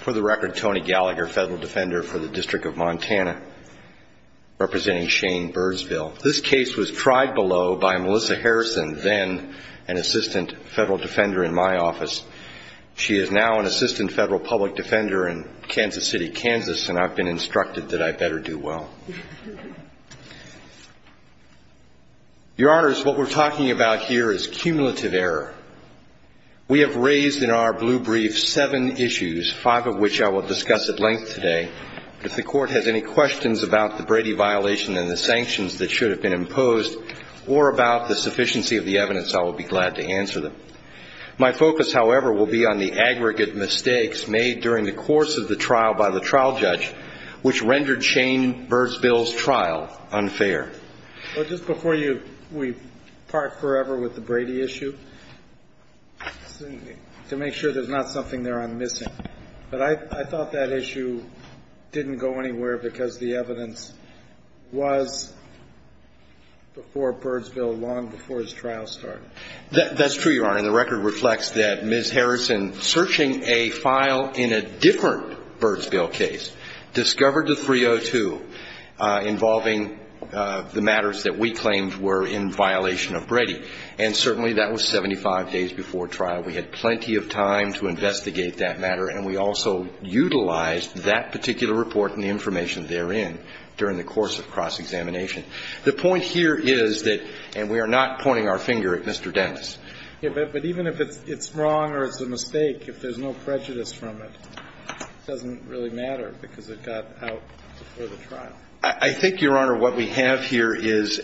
for the record, Tony Gallagher, federal defender for the District of Montana, representing Shane Birdsvil. This case was tried below by Melissa Harrison, then an assistant federal defender in my office. She is now an assistant federal public defender in Kansas City, Kansas, and I've been instructed that I better do well. Your hearing about here is cumulative error. We have raised in our blue brief seven issues, five of which I will discuss at length today. If the court has any questions about the Brady violation and the sanctions that should have been imposed, or about the sufficiency of the evidence, I will be glad to answer them. My focus, however, will be on the aggregate mistakes made during the course of the trial by the trial judge, which rendered Shane Birdsvil's trial unfair. Your Honor, just before we part forever with the Brady issue, to make sure there's not something there I'm missing, but I thought that issue didn't go anywhere because the evidence was before Birdsvil long before his trial started. That's true, Your Honor, and the record reflects that Ms. Harrison, searching a file in a different Birdsvil case, discovered the 302 involving the matters that we claimed were in violation of Brady, and certainly that was 75 days before trial. We had plenty of time to investigate that matter, and we also utilized that particular report and the information therein during the course of cross-examination. The point here is that, and we are not pointing our finger at Mr. Dennis. Yes, but even if it's wrong or it's a mistake, if there's no prejudice from it, it doesn't really matter because it got out before the trial. I think, Your Honor, what we have here is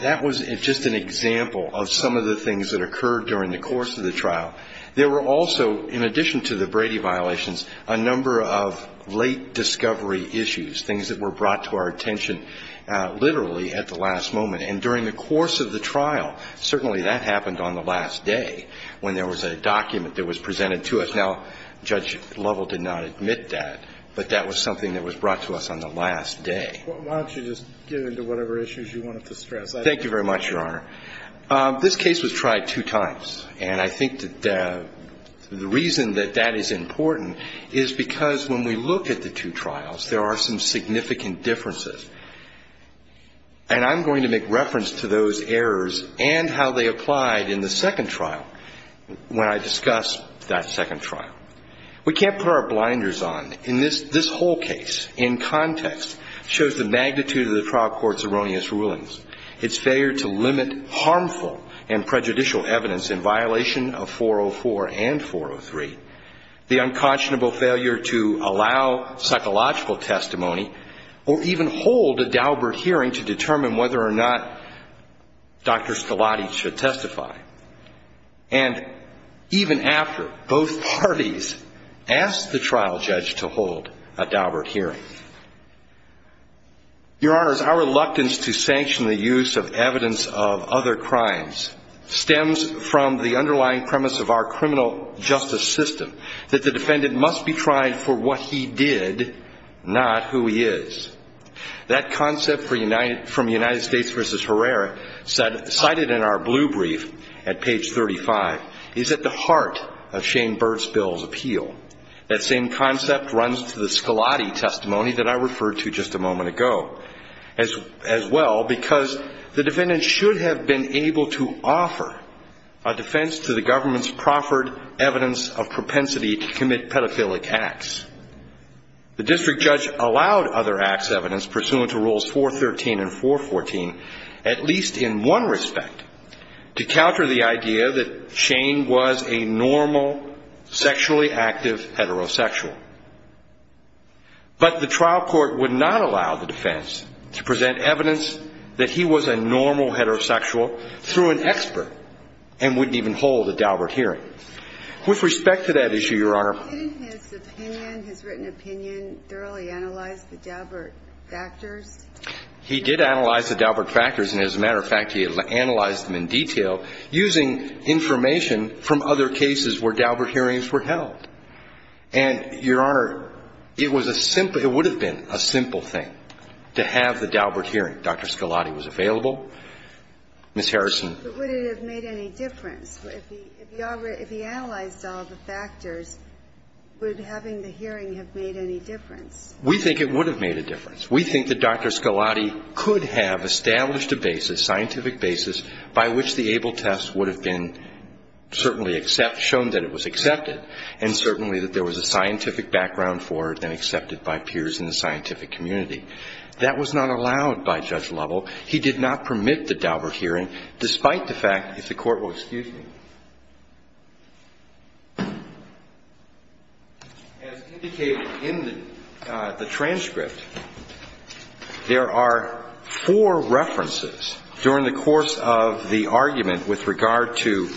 that was just an example of some of the things that occurred during the course of the trial. There were also, in addition to the Brady violations, a number of late discovery issues, things that were brought to our attention literally at the last moment, and during the course of the trial, certainly that happened on the last day when there was a document that was presented to us. Now, Judge Lovell did not admit that, but that was something that was brought to us on the last day. Why don't you just get into whatever issues you wanted to stress. Thank you very much, Your Honor. This case was tried two times, and I think that the reason that that is important is because when we look at the two trials, there are some significant differences. And I'm going to make reference to those errors and how they applied in the second trial when I discuss that second trial. We can't put our blinders on. In this whole case, in context, shows the magnitude of the trial court's erroneous rulings, its failure to limit harmful and prejudicial evidence in violation of 404 and 403, the unconscionable failure to allow psychological testimony or even hold a Daubert hearing to determine whether or not Dr. Stellati should testify. And even after, both parties asked the trial judge to hold a Daubert hearing. Your Honors, our reluctance to sanction the use of evidence of other crimes stems from the underlying premise of our criminal justice system, that the defendant must be tried for what he did, not who he is. That concept from United States v. Herrera cited in our blue brief at page 35 is at the heart of Shane Birdspiel's appeal. That same concept runs to the Stellati testimony that I referred to just a moment ago as well, because the defendant should have been able to offer a defense to the government's proffered evidence of propensity to commit pedophilic acts. The district judge allowed other acts of evidence pursuant to rules 413 and 414, at least in one respect, to counter the idea that Shane was a normal, sexually active heterosexual. But the trial court would not allow the defense to present evidence that he was a normal heterosexual through an expert and wouldn't even hold a Daubert hearing. With respect to that issue, Your Honor. Didn't his opinion, his written opinion, thoroughly analyze the Daubert factors? He did analyze the Daubert factors. And as a matter of fact, he analyzed them in detail using information from other cases where Daubert hearings were held. And, Your Honor, it was a simple – it would have been a simple thing to have the Daubert hearing. Dr. Stellati was available. Ms. Harrison. But would it have made any difference? If he analyzed all the factors, would having the hearing have made any difference? We think it would have made a difference. We think that Dr. Stellati could have established a basis, scientific basis, by which the ABLE test would have been certainly shown that it was accepted and certainly that there was a scientific background for it and accepted by peers in the scientific community. That was not allowed by Judge Lovell. He did not permit the Daubert hearing, despite the fact – if the Court will excuse me. As indicated in the transcript, there are four references during the course of the argument with regard to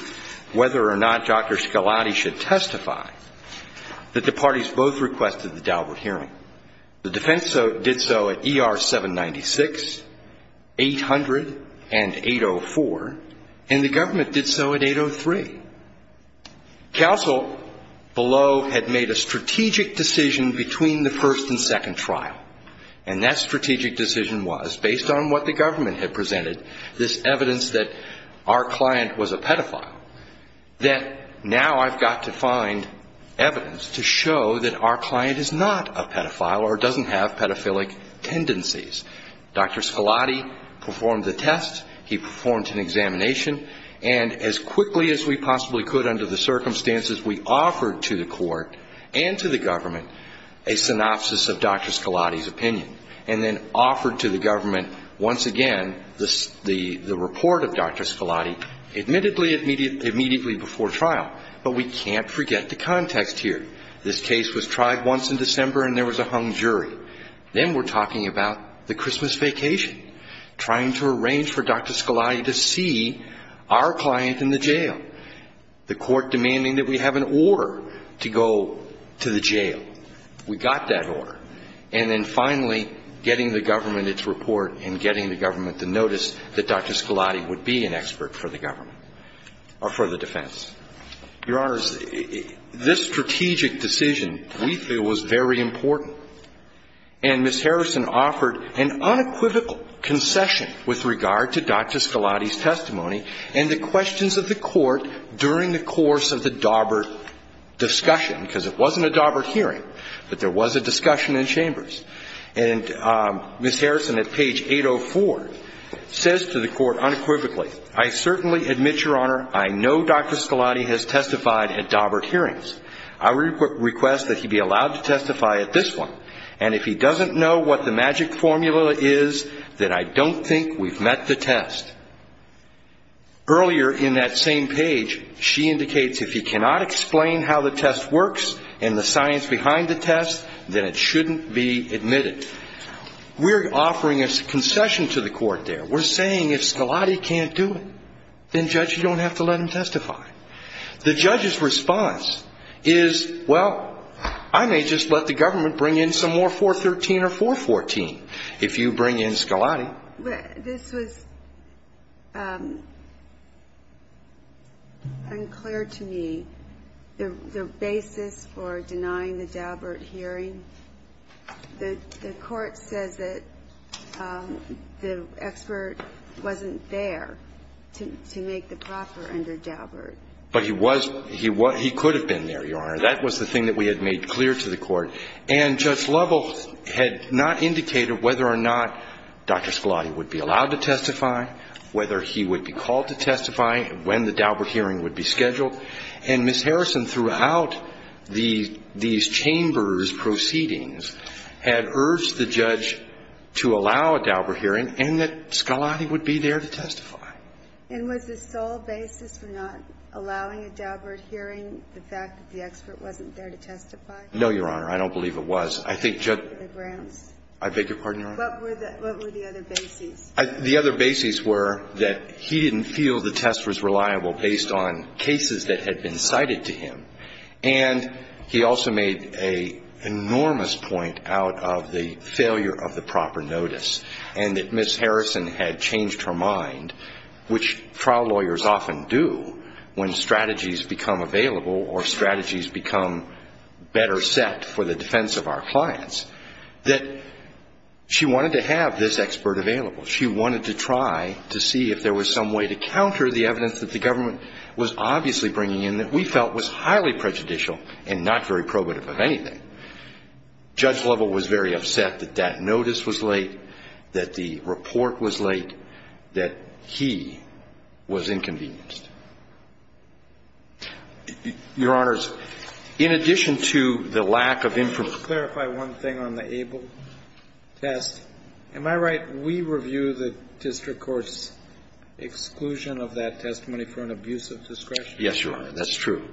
whether or not Dr. Stellati should testify that the parties both requested the Daubert hearing. The defense did so at ER 796, 800, and 804. And the government did so at 803. Counsel below had made a strategic decision between the first and second trial. And that strategic decision was, based on what the government had presented, this evidence that our client was a pedophile, that now I've got to find evidence to show that our client is not a pedophile or doesn't have pedophilic tendencies. Dr. Stellati performed the test. He performed an examination. And as quickly as we possibly could under the circumstances, we offered to the Court and to the government a synopsis of Dr. Stellati's opinion and then offered to the government once again the report of Dr. Stellati, admittedly immediately before trial. But we can't forget the context here. This case was tried once in December, and there was a hung jury. Then we're talking about the Christmas vacation, trying to arrange for Dr. Stellati to see our client in the jail, the Court demanding that we have an order to go to the jail. We got that order. And then finally getting the government its report and getting the government the notice that Dr. Stellati would be an expert for the government or for the defense. Your Honors, this strategic decision, we feel, was very important. And Ms. Harrison offered an unequivocal concession with regard to Dr. Stellati's testimony and the questions of the Court during the course of the Daubert discussion, because it wasn't a Daubert hearing, but there was a discussion in chambers. And Ms. Harrison at page 804 says to the Court unequivocally, I certainly admit, Your Honor, I know Dr. Stellati has testified at Daubert hearings. I request that he be allowed to testify at this one. And if he doesn't know what the magic formula is, then I don't think we've met the test. Earlier in that same page, she indicates, if he cannot explain how the test works and the science behind the test, then it shouldn't be admitted. We're offering a concession to the Court there. We're saying if Stellati can't do it, then, Judge, you don't have to let him testify. The judge's response is, well, I may just let the government bring in some more 413 or 414 if you bring in Stellati. This was unclear to me, the basis for denying the Daubert hearing. The Court says that the expert wasn't there to make the proffer under Daubert. But he was. He could have been there, Your Honor. That was the thing that we had made clear to the Court. And Judge Lovell had not indicated whether or not Dr. Stellati would be allowed to testify, whether he would be called to testify, when the Daubert hearing would be scheduled. And Ms. Harrison, throughout these chambers' proceedings, had urged the judge to allow a Daubert hearing and that Stellati would be there to testify. And was the sole basis for not allowing a Daubert hearing the fact that the expert wasn't there to testify? No, Your Honor. I don't believe it was. The grounds? I beg your pardon, Your Honor? What were the other bases? The other bases were that he didn't feel the test was reliable based on cases that had been cited to him. And he also made an enormous point out of the failure of the proper notice and that Ms. Harrison had changed her mind, which trial lawyers often do when strategies become available or strategies become better set for the defense of our clients, that she wanted to have this expert available. She wanted to try to see if there was some way to counter the evidence that the government was obviously bringing in that we felt was highly prejudicial and not very probative of anything. Judge Lovell was very upset that that notice was late, that the report was late, that he was inconvenienced. Your Honors, in addition to the lack of information to clarify one thing on the Abel test, am I right, we review the district court's exclusion of that testimony for an abuse of discretion? Yes, Your Honor. That's true.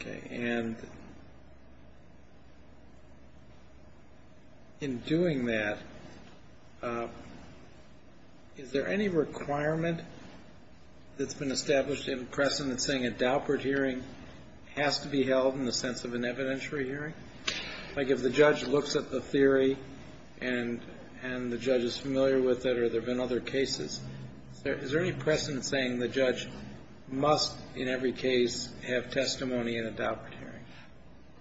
Okay. And in doing that, is there any requirement that's been established in precedent saying a Daubert hearing has to be held in the sense of an evidentiary hearing? Like if the judge looks at the theory and the judge is familiar with it or there have been other cases, is there any precedent saying the judge must in every case have testimony in a Daubert hearing?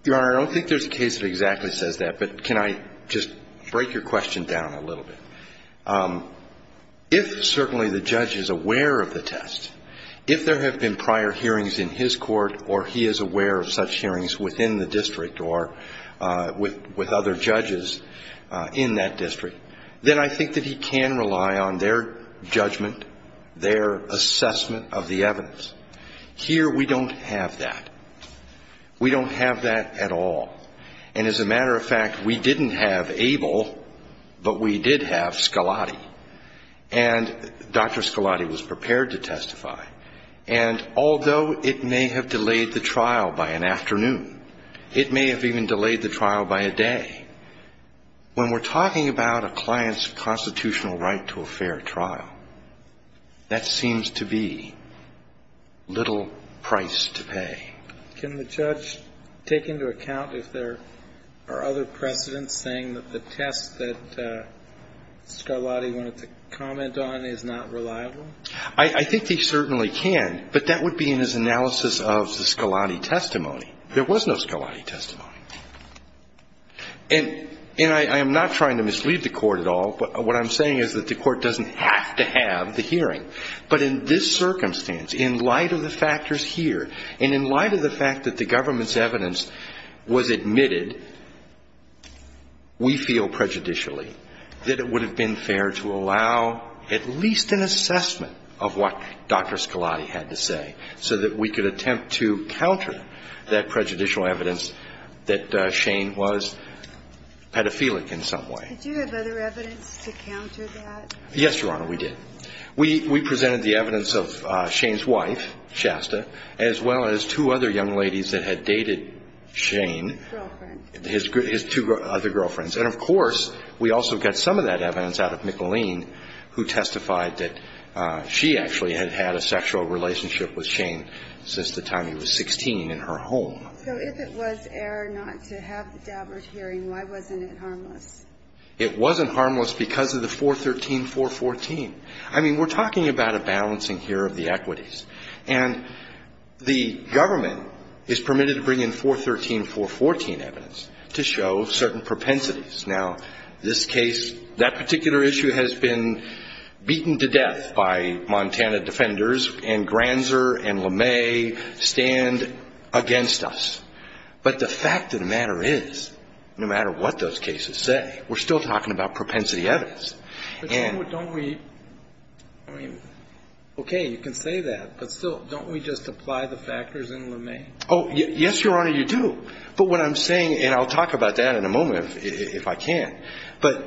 Your Honor, I don't think there's a case that exactly says that, but can I just break your question down a little bit? If certainly the judge is aware of the test, if there have been prior hearings in his court or he is aware of such hearings within the district or with other judges in that district, then I think that he can rely on their judgment, their assessment of the evidence. Here we don't have that. We don't have that at all. And as a matter of fact, we didn't have Abel, but we did have Scalati. And Dr. Scalati was prepared to testify. And although it may have delayed the trial by an afternoon, it may have even delayed the trial by a day, when we're talking about a client's constitutional right to a little price to pay. Can the judge take into account if there are other precedents saying that the test that Scalati wanted to comment on is not reliable? I think he certainly can, but that would be in his analysis of the Scalati testimony. There was no Scalati testimony. And I am not trying to mislead the Court at all, but what I'm saying is that the Court doesn't have to have the hearing. But in this circumstance, in light of the factors here, and in light of the fact that the government's evidence was admitted, we feel prejudicially that it would have been fair to allow at least an assessment of what Dr. Scalati had to say, so that we could attempt to counter that prejudicial evidence that Shane was pedophilic in some way. Did you have other evidence to counter that? Yes, Your Honor, we did. We presented the evidence of Shane's wife, Shasta, as well as two other young ladies that had dated Shane. Girlfriend. His two other girlfriends. And, of course, we also got some of that evidence out of McLean, who testified that she actually had had a sexual relationship with Shane since the time he was 16 in her home. So if it was air not to have the dabbler's hearing, why wasn't it harmless? It wasn't harmless because of the 413-414. I mean, we're talking about a balancing here of the equities. And the government is permitted to bring in 413-414 evidence to show certain propensities. Now, this case, that particular issue has been beaten to death by Montana defenders, and Granzer and LeMay stand against us. But the fact of the matter is, no matter what those cases say, we're still talking about propensity evidence. But, Your Honor, don't we – I mean, okay, you can say that. But still, don't we just apply the factors in LeMay? Oh, yes, Your Honor, you do. But what I'm saying – and I'll talk about that in a moment if I can. But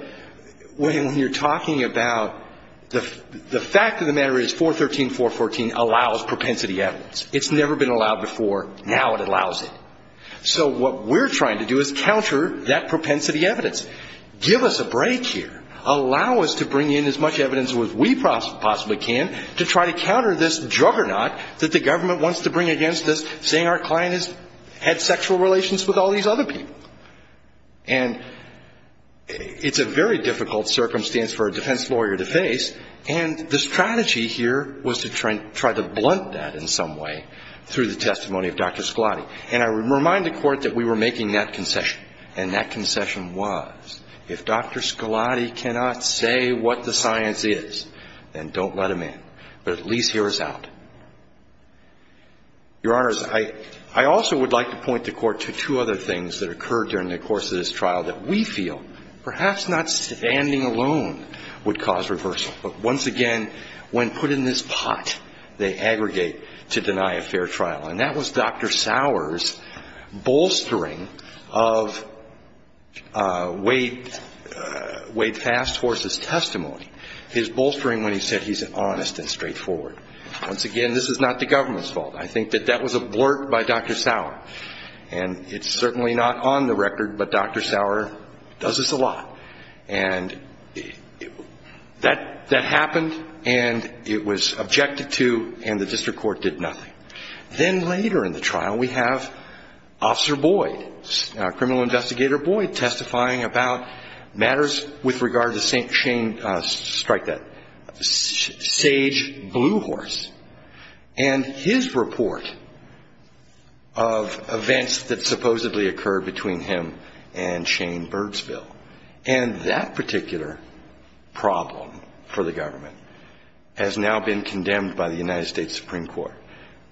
when you're talking about – the fact of the matter is 413-414 allows propensity evidence. It's never been allowed before. Now it allows it. So what we're trying to do is counter that propensity evidence. Give us a break here. Allow us to bring in as much evidence as we possibly can to try to counter this juggernaut that the government wants to bring against us, saying our client has had sexual relations with all these other people. And it's a very difficult circumstance for a defense lawyer to face, and the testimony of Dr. Scalati. And I remind the Court that we were making that concession. And that concession was, if Dr. Scalati cannot say what the science is, then don't let him in. But at least hear us out. Your Honors, I also would like to point the Court to two other things that occurred during the course of this trial that we feel, perhaps not standing alone, would cause reversal. But once again, when put in this pot, they aggregate to deny a fair trial. And that was Dr. Sauer's bolstering of Wade Fast Horse's testimony, his bolstering when he said he's honest and straightforward. Once again, this is not the government's fault. I think that that was a blurt by Dr. Sauer. And it's certainly not on the record, but Dr. Sauer does this a lot. And that happened, and it was objected to, and the District Court did nothing. Then later in the trial, we have Officer Boyd, Criminal Investigator Boyd, testifying about matters with regard to St. Shane, strike that, Sage Blue Horse, and his report of events that supposedly occurred between him and Shane in Birdsville. And that particular problem for the government has now been condemned by the United States Supreme Court.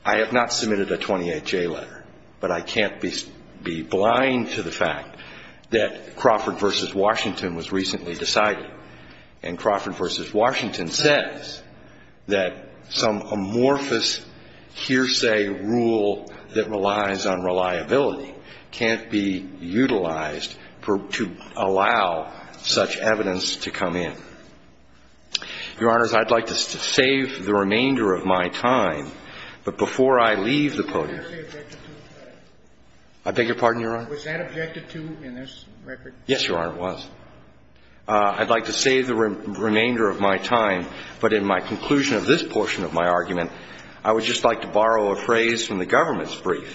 I have not submitted a 28-J letter, but I can't be blind to the fact that Crawford v. Washington was recently decided, and Crawford v. Washington says that some amorphous hearsay rule that relies on reliability can't be utilized to allow such evidence to come in. Your Honors, I'd like to save the remainder of my time. But before I leave the podium ---- I beg your pardon, Your Honor? Was that objected to in this record? Yes, Your Honor, it was. I'd like to save the remainder of my time, but in my conclusion of this portion of my argument, I would just like to borrow a phrase from the government's statement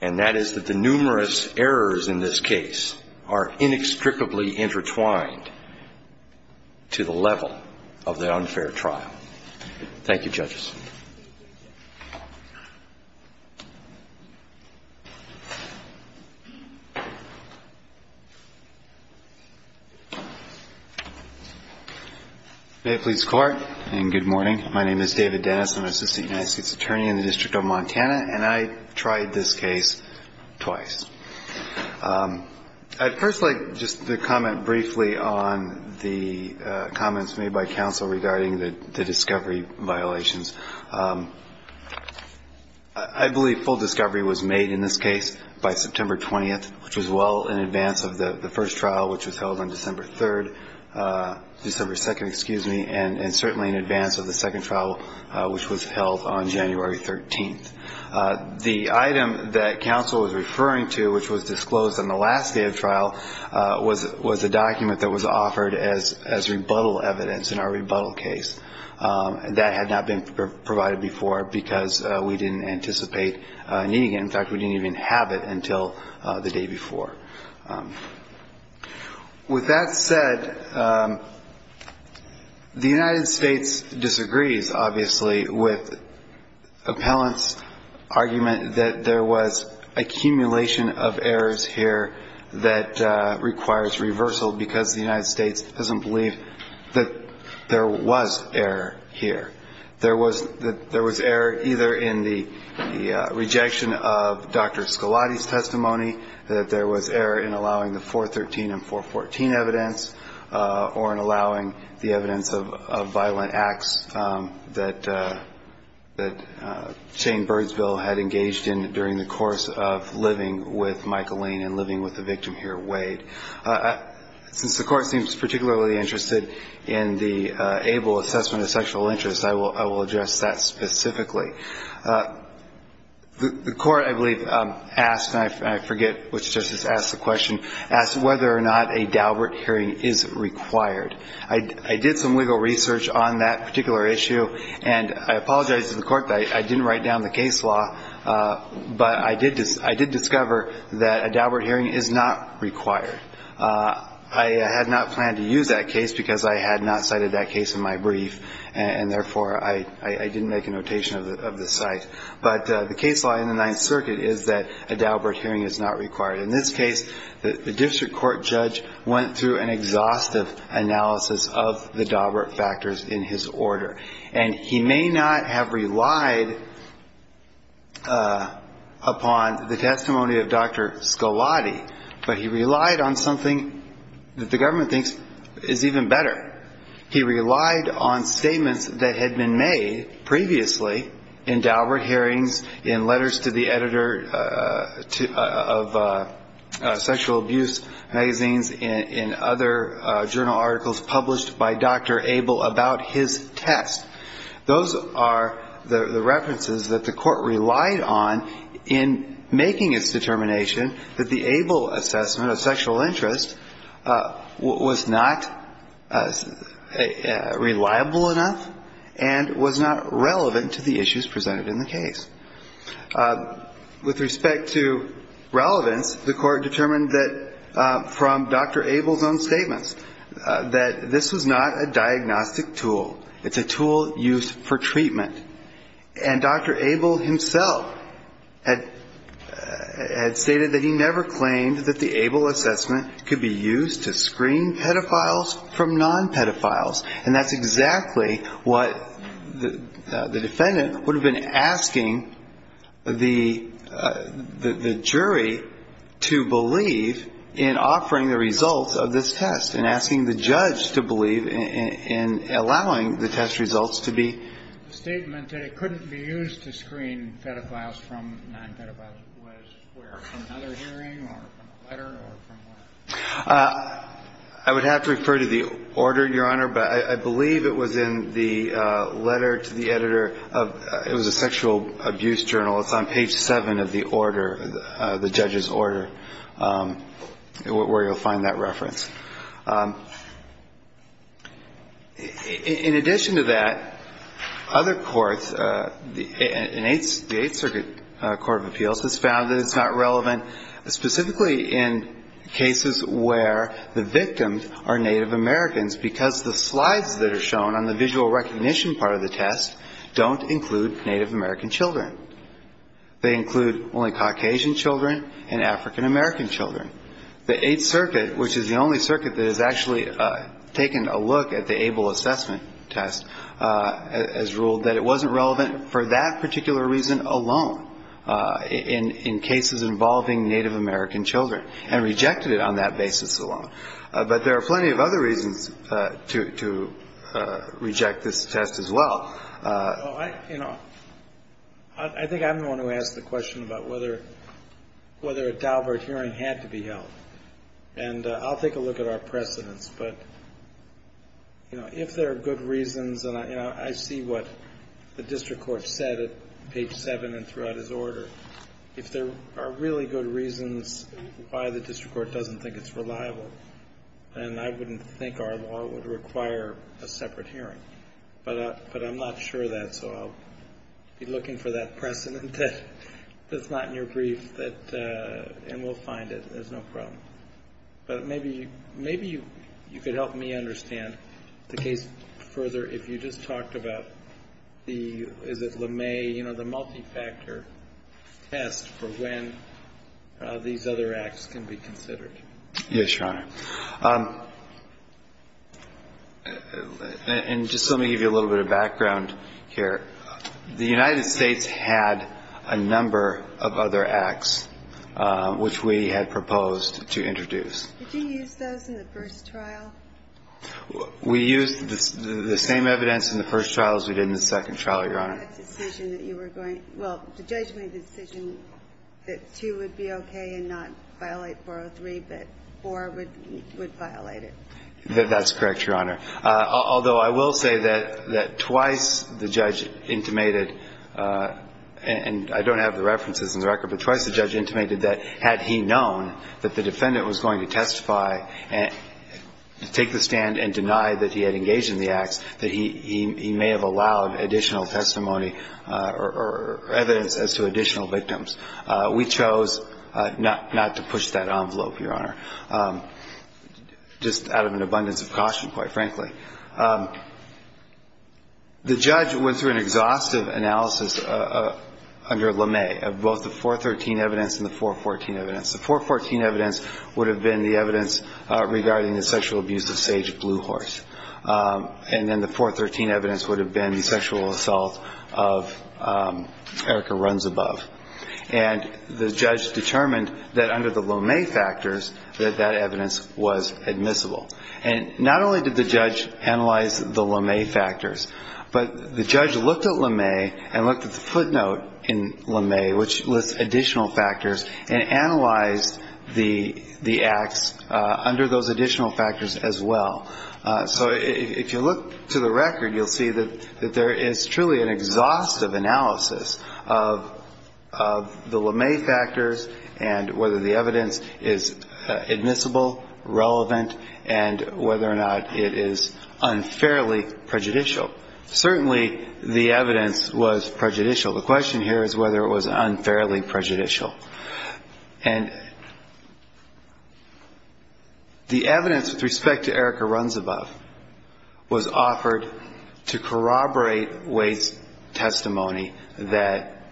that the numerous errors in this case are inextricably intertwined to the level of the unfair trial. Thank you, judges. May it please the Court, and good morning. My name is David Dennis. I'm an assistant United States attorney in the District of Montana, and I tried this case twice. I'd first like just to comment briefly on the comments made by counsel regarding the discovery violations. I believe full discovery was made in this case by September 20th, which was well in advance of the first trial, which was held on December 3rd ---- December 2nd, excuse me, and certainly in advance of the second trial, which was held on January 13th. The item that counsel was referring to, which was disclosed on the last day of trial, was a document that was offered as rebuttal evidence in our rebuttal case. That had not been provided before because we didn't anticipate needing it. In fact, we didn't even have it until the day before. With that said, the United States disagrees, obviously, with appellant's argument that there was accumulation of errors here that requires reversal because the United States doesn't believe that there was error here. There was error either in the rejection of Dr. Scalati's testimony, that there was error in allowing the 413 and 414 evidence, or in allowing the evidence of violent acts that Shane Birdsville had engaged in during the course of living with Michael Lane and living with the victim here, Wade. Since the Court seems particularly interested in the ABLE assessment of sexual interest, I will address that specifically. The Court, I believe, asked, and I forget which justice asked the question, asked whether or not a Daubert hearing is required. I did some legal research on that particular issue, and I apologize to the Court that I didn't write down the case law, but I did discover that a Daubert hearing is not required. I had not planned to use that case because I had not cited that case in my brief, and therefore I didn't make a notation of the site. But the case law in the Ninth Circuit is that a Daubert hearing is not required. In this case, the district court judge went through an exhaustive analysis of the Daubert factors in his order, and he may not have relied upon the testimony of Dr. Scalati, but he relied on something that the government thinks is even better. He relied on statements that had been made previously in Daubert hearings, in letters to the editor of sexual abuse magazines, in other journal articles published by Dr. ABLE about his test. Those are the references that the Court relied on in making its determination that the ABLE assessment of sexual interest was not reliable enough and was not relevant to the issues presented in the case. With respect to relevance, the Court determined that from Dr. ABLE's own statements that this was not a diagnostic tool. It's a tool used for treatment. And Dr. ABLE himself had stated that he never claimed that the ABLE assessment could be used to screen pedophiles from non-pedophiles, and that's exactly what the defendant would have been asking the jury to believe in offering the results of this test, and asking the judge to believe in allowing the test results to be. The statement that it couldn't be used to screen pedophiles from non-pedophiles was where, from another hearing or from a letter or from where? I would have to refer to the order, Your Honor, but I believe it was in the letter to the editor of – it was a sexual abuse journal. It's on page 7 of the order, the judge's order, where you'll find that reference. In addition to that, other courts, the Eighth Circuit Court of Appeals, has found that it's not relevant specifically in cases where the victims are Native Americans because the slides that are shown on the visual recognition part of the test don't include Native American children. They include only Caucasian children and African American children. The Eighth Circuit, which is the only circuit that has actually taken a look at the ABLE assessment test, has ruled that it wasn't relevant for that particular reason alone in cases involving Native American children, and rejected it on that basis alone. But there are plenty of other reasons to reject this test as well. Well, I, you know, I think I'm the one who asked the question about whether a Daubert hearing had to be held. And I'll take a look at our precedents, but, you know, if there are good reasons, and I see what the district court said at page 7 and throughout his order, if there are really good reasons why the district court doesn't think it's reliable, then I wouldn't think our law would require a separate hearing. But I'm not sure of that, so I'll be looking for that precedent that's not in your brief, and we'll find it. There's no problem. But maybe you could help me understand the case further. Yes, Your Honor. And just let me give you a little bit of background here. The United States had a number of other acts which we had proposed to introduce. Did you use those in the first trial? The same evidence in the first trial as we did in the second trial, Your Honor. The decision that you were going to – well, the judge made the decision that 2 would be okay and not violate 403, but 4 would violate it. That's correct, Your Honor. Although I will say that twice the judge intimated, and I don't have the references in the record, but twice the judge intimated that had he known that the defendant was going to testify and take the stand and deny that he had engaged in the acts, that he may have allowed additional testimony or evidence as to additional victims. We chose not to push that envelope, Your Honor, just out of an abundance of caution, quite frankly. The judge went through an exhaustive analysis under LeMay of both the 413 evidence and the 414 evidence. The 414 evidence would have been the evidence regarding the sexual abuse of Sage Bluehorse. And then the 413 evidence would have been the sexual assault of Erica Runs Above. And the judge determined that under the LeMay factors that that evidence was admissible. And not only did the judge analyze the LeMay factors, but the judge looked at LeMay and analyzed the acts under those additional factors as well. So if you look to the record, you'll see that there is truly an exhaustive analysis of the LeMay factors and whether the evidence is admissible, relevant, and whether or not it is unfairly prejudicial. Certainly the evidence was prejudicial. The question here is whether it was unfairly prejudicial. And the evidence with respect to Erica Runs Above was offered to corroborate Wade's testimony that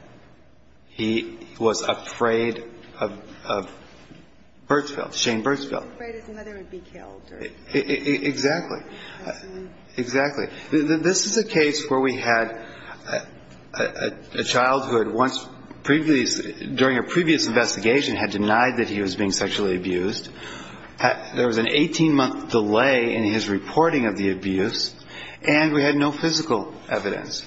he was afraid of Burtsville, Shane Burtsville. He was afraid his mother would be killed. Exactly. Exactly. This is a case where we had a child who had once previously, during a previous investigation, had denied that he was being sexually abused. There was an 18-month delay in his reporting of the abuse. And we had no physical evidence.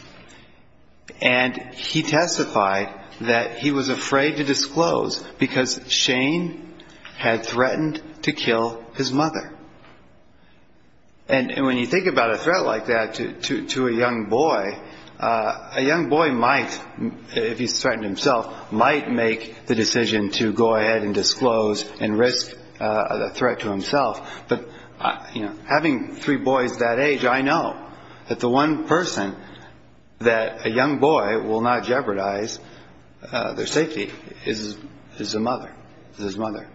And he testified that he was afraid to disclose because Shane had threatened to kill his mother. And when you think about a threat like that to a young boy, a young boy might, if he threatened himself, might make the decision to go ahead and disclose and risk a threat to himself. But, you know, having three boys that age, I know that the one person that a young boy will not jeopardize their safety is his mother, is his mother.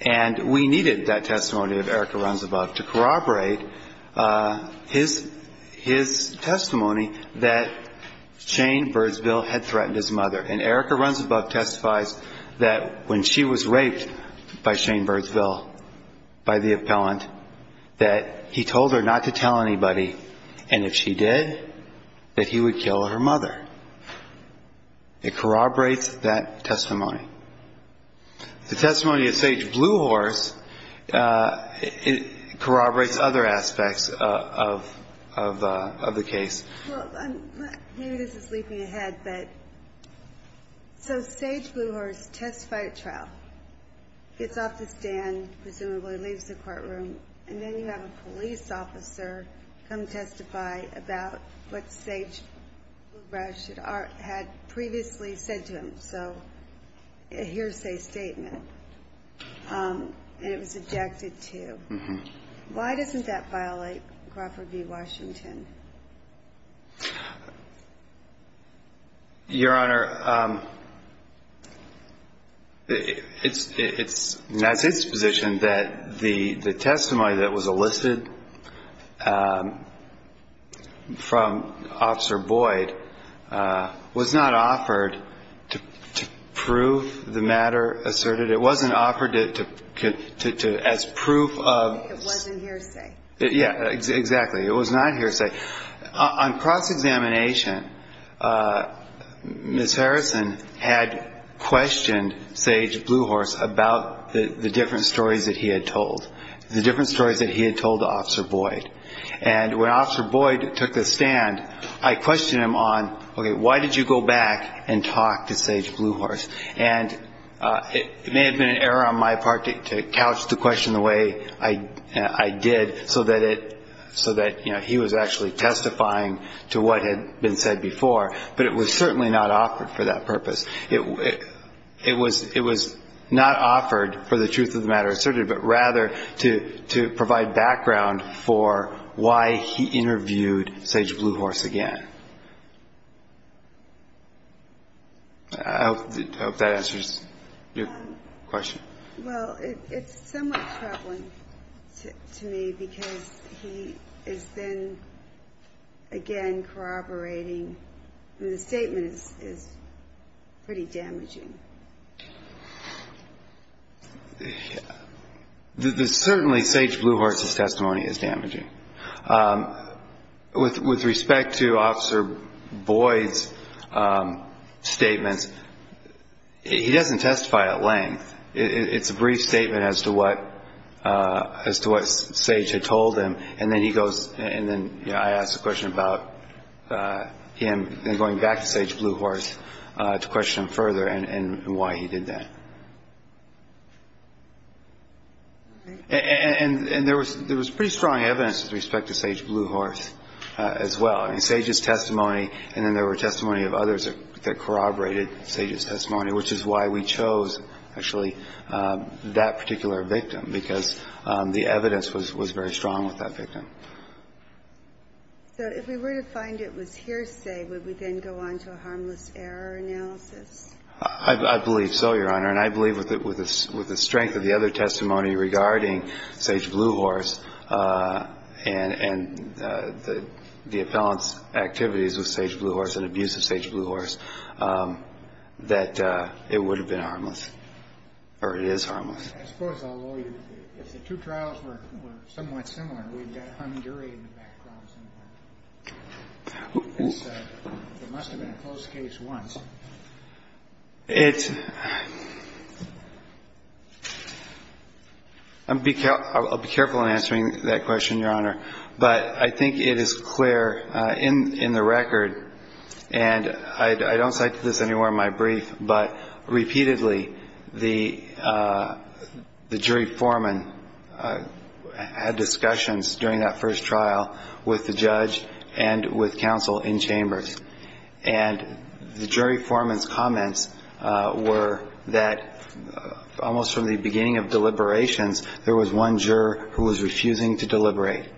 And we needed that testimony of Erica Runs Above to corroborate his testimony that Shane Burtsville had threatened his mother. And Erica Runs Above testifies that when she was raped by Shane Burtsville, by the appellant, that he told her not to tell anybody. And if she did, that he would kill her mother. It corroborates that testimony. The testimony of Sage Bluehorse corroborates other aspects of the case. Well, maybe this is leaping ahead, but so Sage Bluehorse testified at trial, gets off the stand, presumably leaves the courtroom, and then you have a police officer come testify about what Sage Bluehorse had previously said to him, so a hearsay statement. And it was ejected, too. Why doesn't that violate Crawford v. Washington? Your Honor, it's not its position that the testimony that was elicited from Officer Boyd was not offered to prove the matter asserted. But it wasn't offered as proof of ‑‑ It wasn't hearsay. Yeah, exactly. It was not hearsay. On cross-examination, Ms. Harrison had questioned Sage Bluehorse about the different stories that he had told, the different stories that he had told Officer Boyd. And when Officer Boyd took the stand, I questioned him on, okay, why did you go back and talk to Sage Bluehorse? And it may have been an error on my part to couch the question the way I did, so that he was actually testifying to what had been said before. But it was certainly not offered for that purpose. It was not offered for the truth of the matter asserted, but rather to provide background for why he interviewed Sage Bluehorse again. I hope that answers your question. Well, it's somewhat troubling to me because he is then again corroborating. The statement is pretty damaging. Certainly Sage Bluehorse's testimony is damaging. With respect to Officer Boyd's statements, he doesn't testify at length. It's a brief statement as to what Sage had told him, and then I ask the question about him going back to Sage Bluehorse to question him further and why he did that. And there was pretty strong evidence with respect to Sage Bluehorse as well. In Sage's testimony, and then there were testimony of others that corroborated Sage's testimony, which is why we chose actually that particular victim, because the evidence was very strong with that victim. So if we were to find it was hearsay, would we then go on to a harmless error analysis? I believe so, Your Honor, and I believe with the strength of the other testimony regarding Sage Bluehorse and the appellant's activities with Sage Bluehorse and abuse of Sage Bluehorse, that it would have been harmless, or it is harmless. As far as I'll owe you, if the two trials were somewhat similar, we've got hung jury in the background somewhere. It must have been a closed case once. I'll be careful in answering that question, Your Honor, but I think it is clear in the record, and I don't cite this anywhere in my brief, but repeatedly the jury foreman had discussions during that first trial with the judge and with counsel in chambers. And the jury foreman's comments were that almost from the beginning of deliberations, there was one juror who was refusing to deliberate.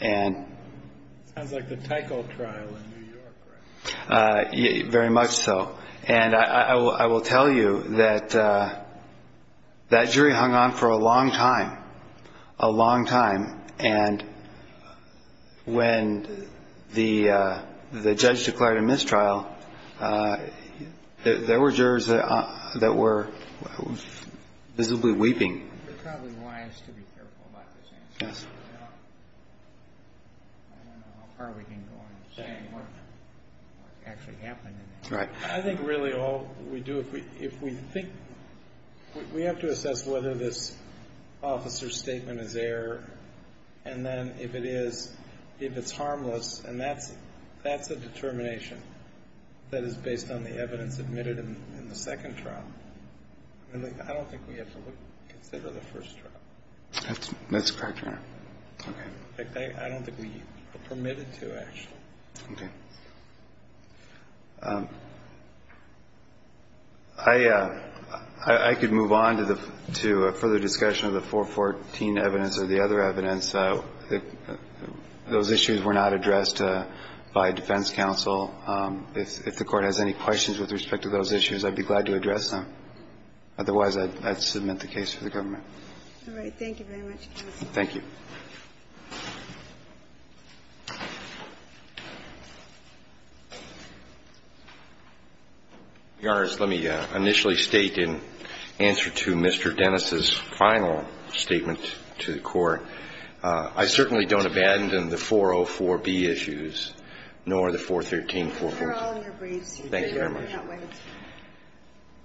Sounds like the Teichol trial in New York, right? Very much so. And I will tell you that that jury hung on for a long time, a long time, and when the judge declared a mistrial, there were jurors that were visibly weeping. You're probably wise to be careful about this answer. I don't know how far we can go in saying what actually happened. I think really all we do, if we think, we have to assess whether this officer's statement is error, and then if it is, if it's harmless, and that's a determination that is based on the evidence submitted in the second trial, I don't think we have to consider the first trial. That's correct, Your Honor. Okay. I don't think we are permitted to, actually. Okay. I could move on to further discussion of the 414 evidence or the other evidence. Those issues were not addressed by defense counsel. If the Court has any questions with respect to those issues, I'd be glad to address them. Otherwise, I'd submit the case to the government. All right. Thank you very much, counsel. Thank you. Your Honors, let me initially state in answer to Mr. Dennis' final statement to the Court, I certainly don't abandon the 404B issues, nor the 413B issues. Thank you very much.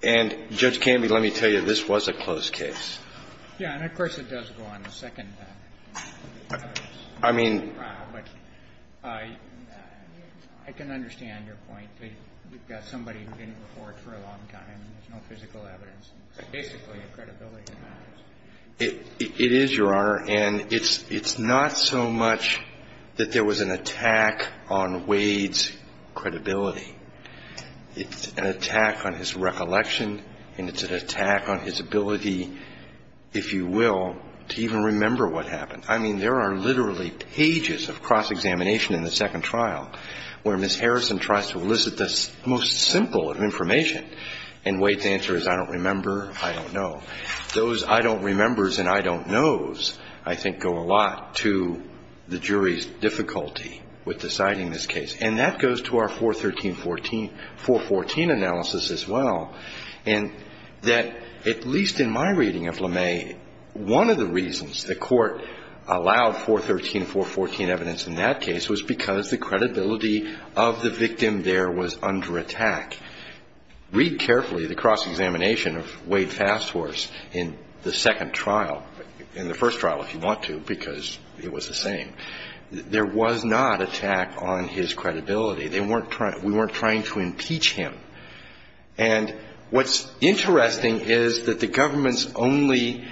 And, Judge Canby, let me tell you, this was a close case. Yeah, and of course, it does go on in the second trial. I mean the second trial, but I can understand your point that you've got somebody who didn't report for a long time. There's no physical evidence. It's basically a credibility matter. It is, Your Honor, and it's not so much that there was an attack on Wade's credibility. It's an attack on his recollection, and it's an attack on his ability, if you will, to even remember what happened. I mean, there are literally pages of cross-examination in the second trial where Ms. Harrison tries to elicit the most simple of information, and Wade's answer is, I don't remember, I don't know. Those I don't remembers and I don't knows, I think, go a lot to the jury's difficulty with deciding this case. And that goes to our 413-414 analysis as well, and that at least in my reading of LeMay, one of the reasons the Court allowed 413-414 evidence in that case was because the credibility of the victim there was under attack. Read carefully the cross-examination of Wade Fast Horse in the second trial, in the first trial if you want to, because it was the same. There was not attack on his credibility. We weren't trying to impeach him. And what's interesting is that the government's only,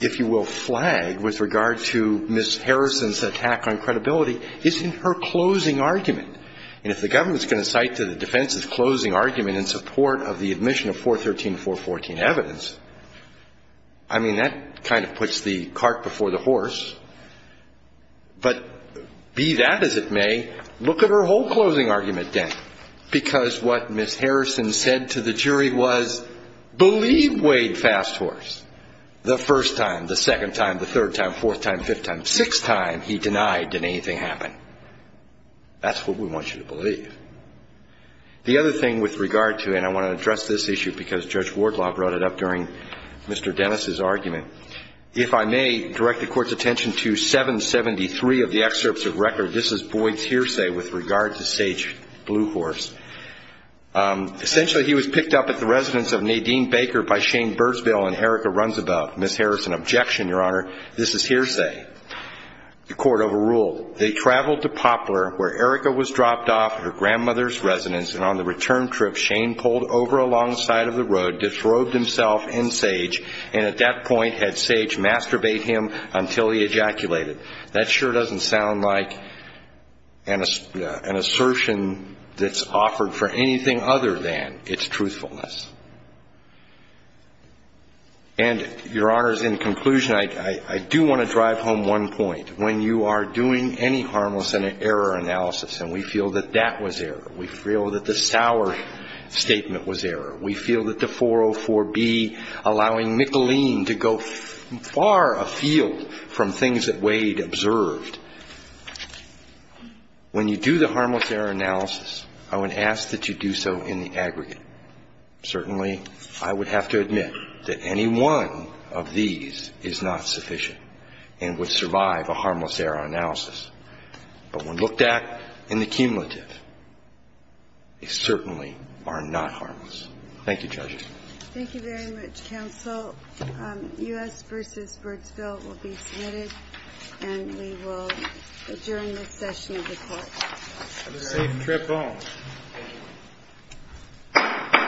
if you will, flag with regard to Ms. Harrison's attack on credibility is in her closing argument. And if the government's going to cite to the defense's closing argument in support of the admission of 413-414 evidence, I mean, that kind of puts the cart before the horse. But be that as it may, look at her whole closing argument then, because what Ms. Harrison said to the jury was, believe Wade Fast Horse. The first time, the second time, the third time, fourth time, fifth time, sixth time he denied did anything happen. That's what we want you to believe. The other thing with regard to, and I want to address this issue because Judge Wardlaw brought it up during Mr. Dennis' argument, if I may direct the Court's attention to 773 of the excerpts of record, this is Boyd's hearsay with regard to Sage Bluehorse. Essentially, he was picked up at the residence of Nadine Baker by Shane Birdsville and Erica Runsabout. Ms. Harrison, objection, Your Honor. This is hearsay. The Court overruled. They traveled to Poplar where Erica was dropped off at her grandmother's residence and on the return trip, Shane pulled over alongside of the road, disrobed himself and Sage, and at that point had Sage masturbate him until he ejaculated. That sure doesn't sound like an assertion that's offered for anything other than its truthfulness. And, Your Honors, in conclusion, I do want to drive home one point. When you are doing any harmless error analysis and we feel that that was error, we feel that the sour statement was error, we feel that the 404B allowing Mickalene to go far afield from things that Wade observed, when you do the harmless error analysis, I would ask that you do so in the aggregate. Certainly, I would have to admit that any one of these is not sufficient and would survive a harmless error analysis. But when looked at in the cumulative, they certainly are not harmless. Thank you, Judge. Thank you very much, Counsel. U.S. v. Birdsville will be submitted and we will adjourn this session of the Court. Have a safe trip home. Thank you.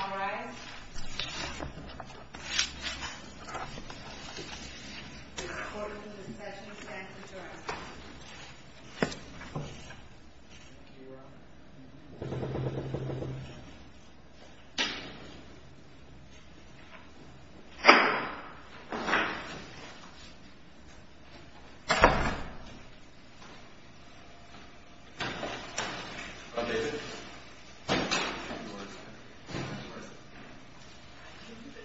All rise. The Court in this session stands adjourned. Thank you.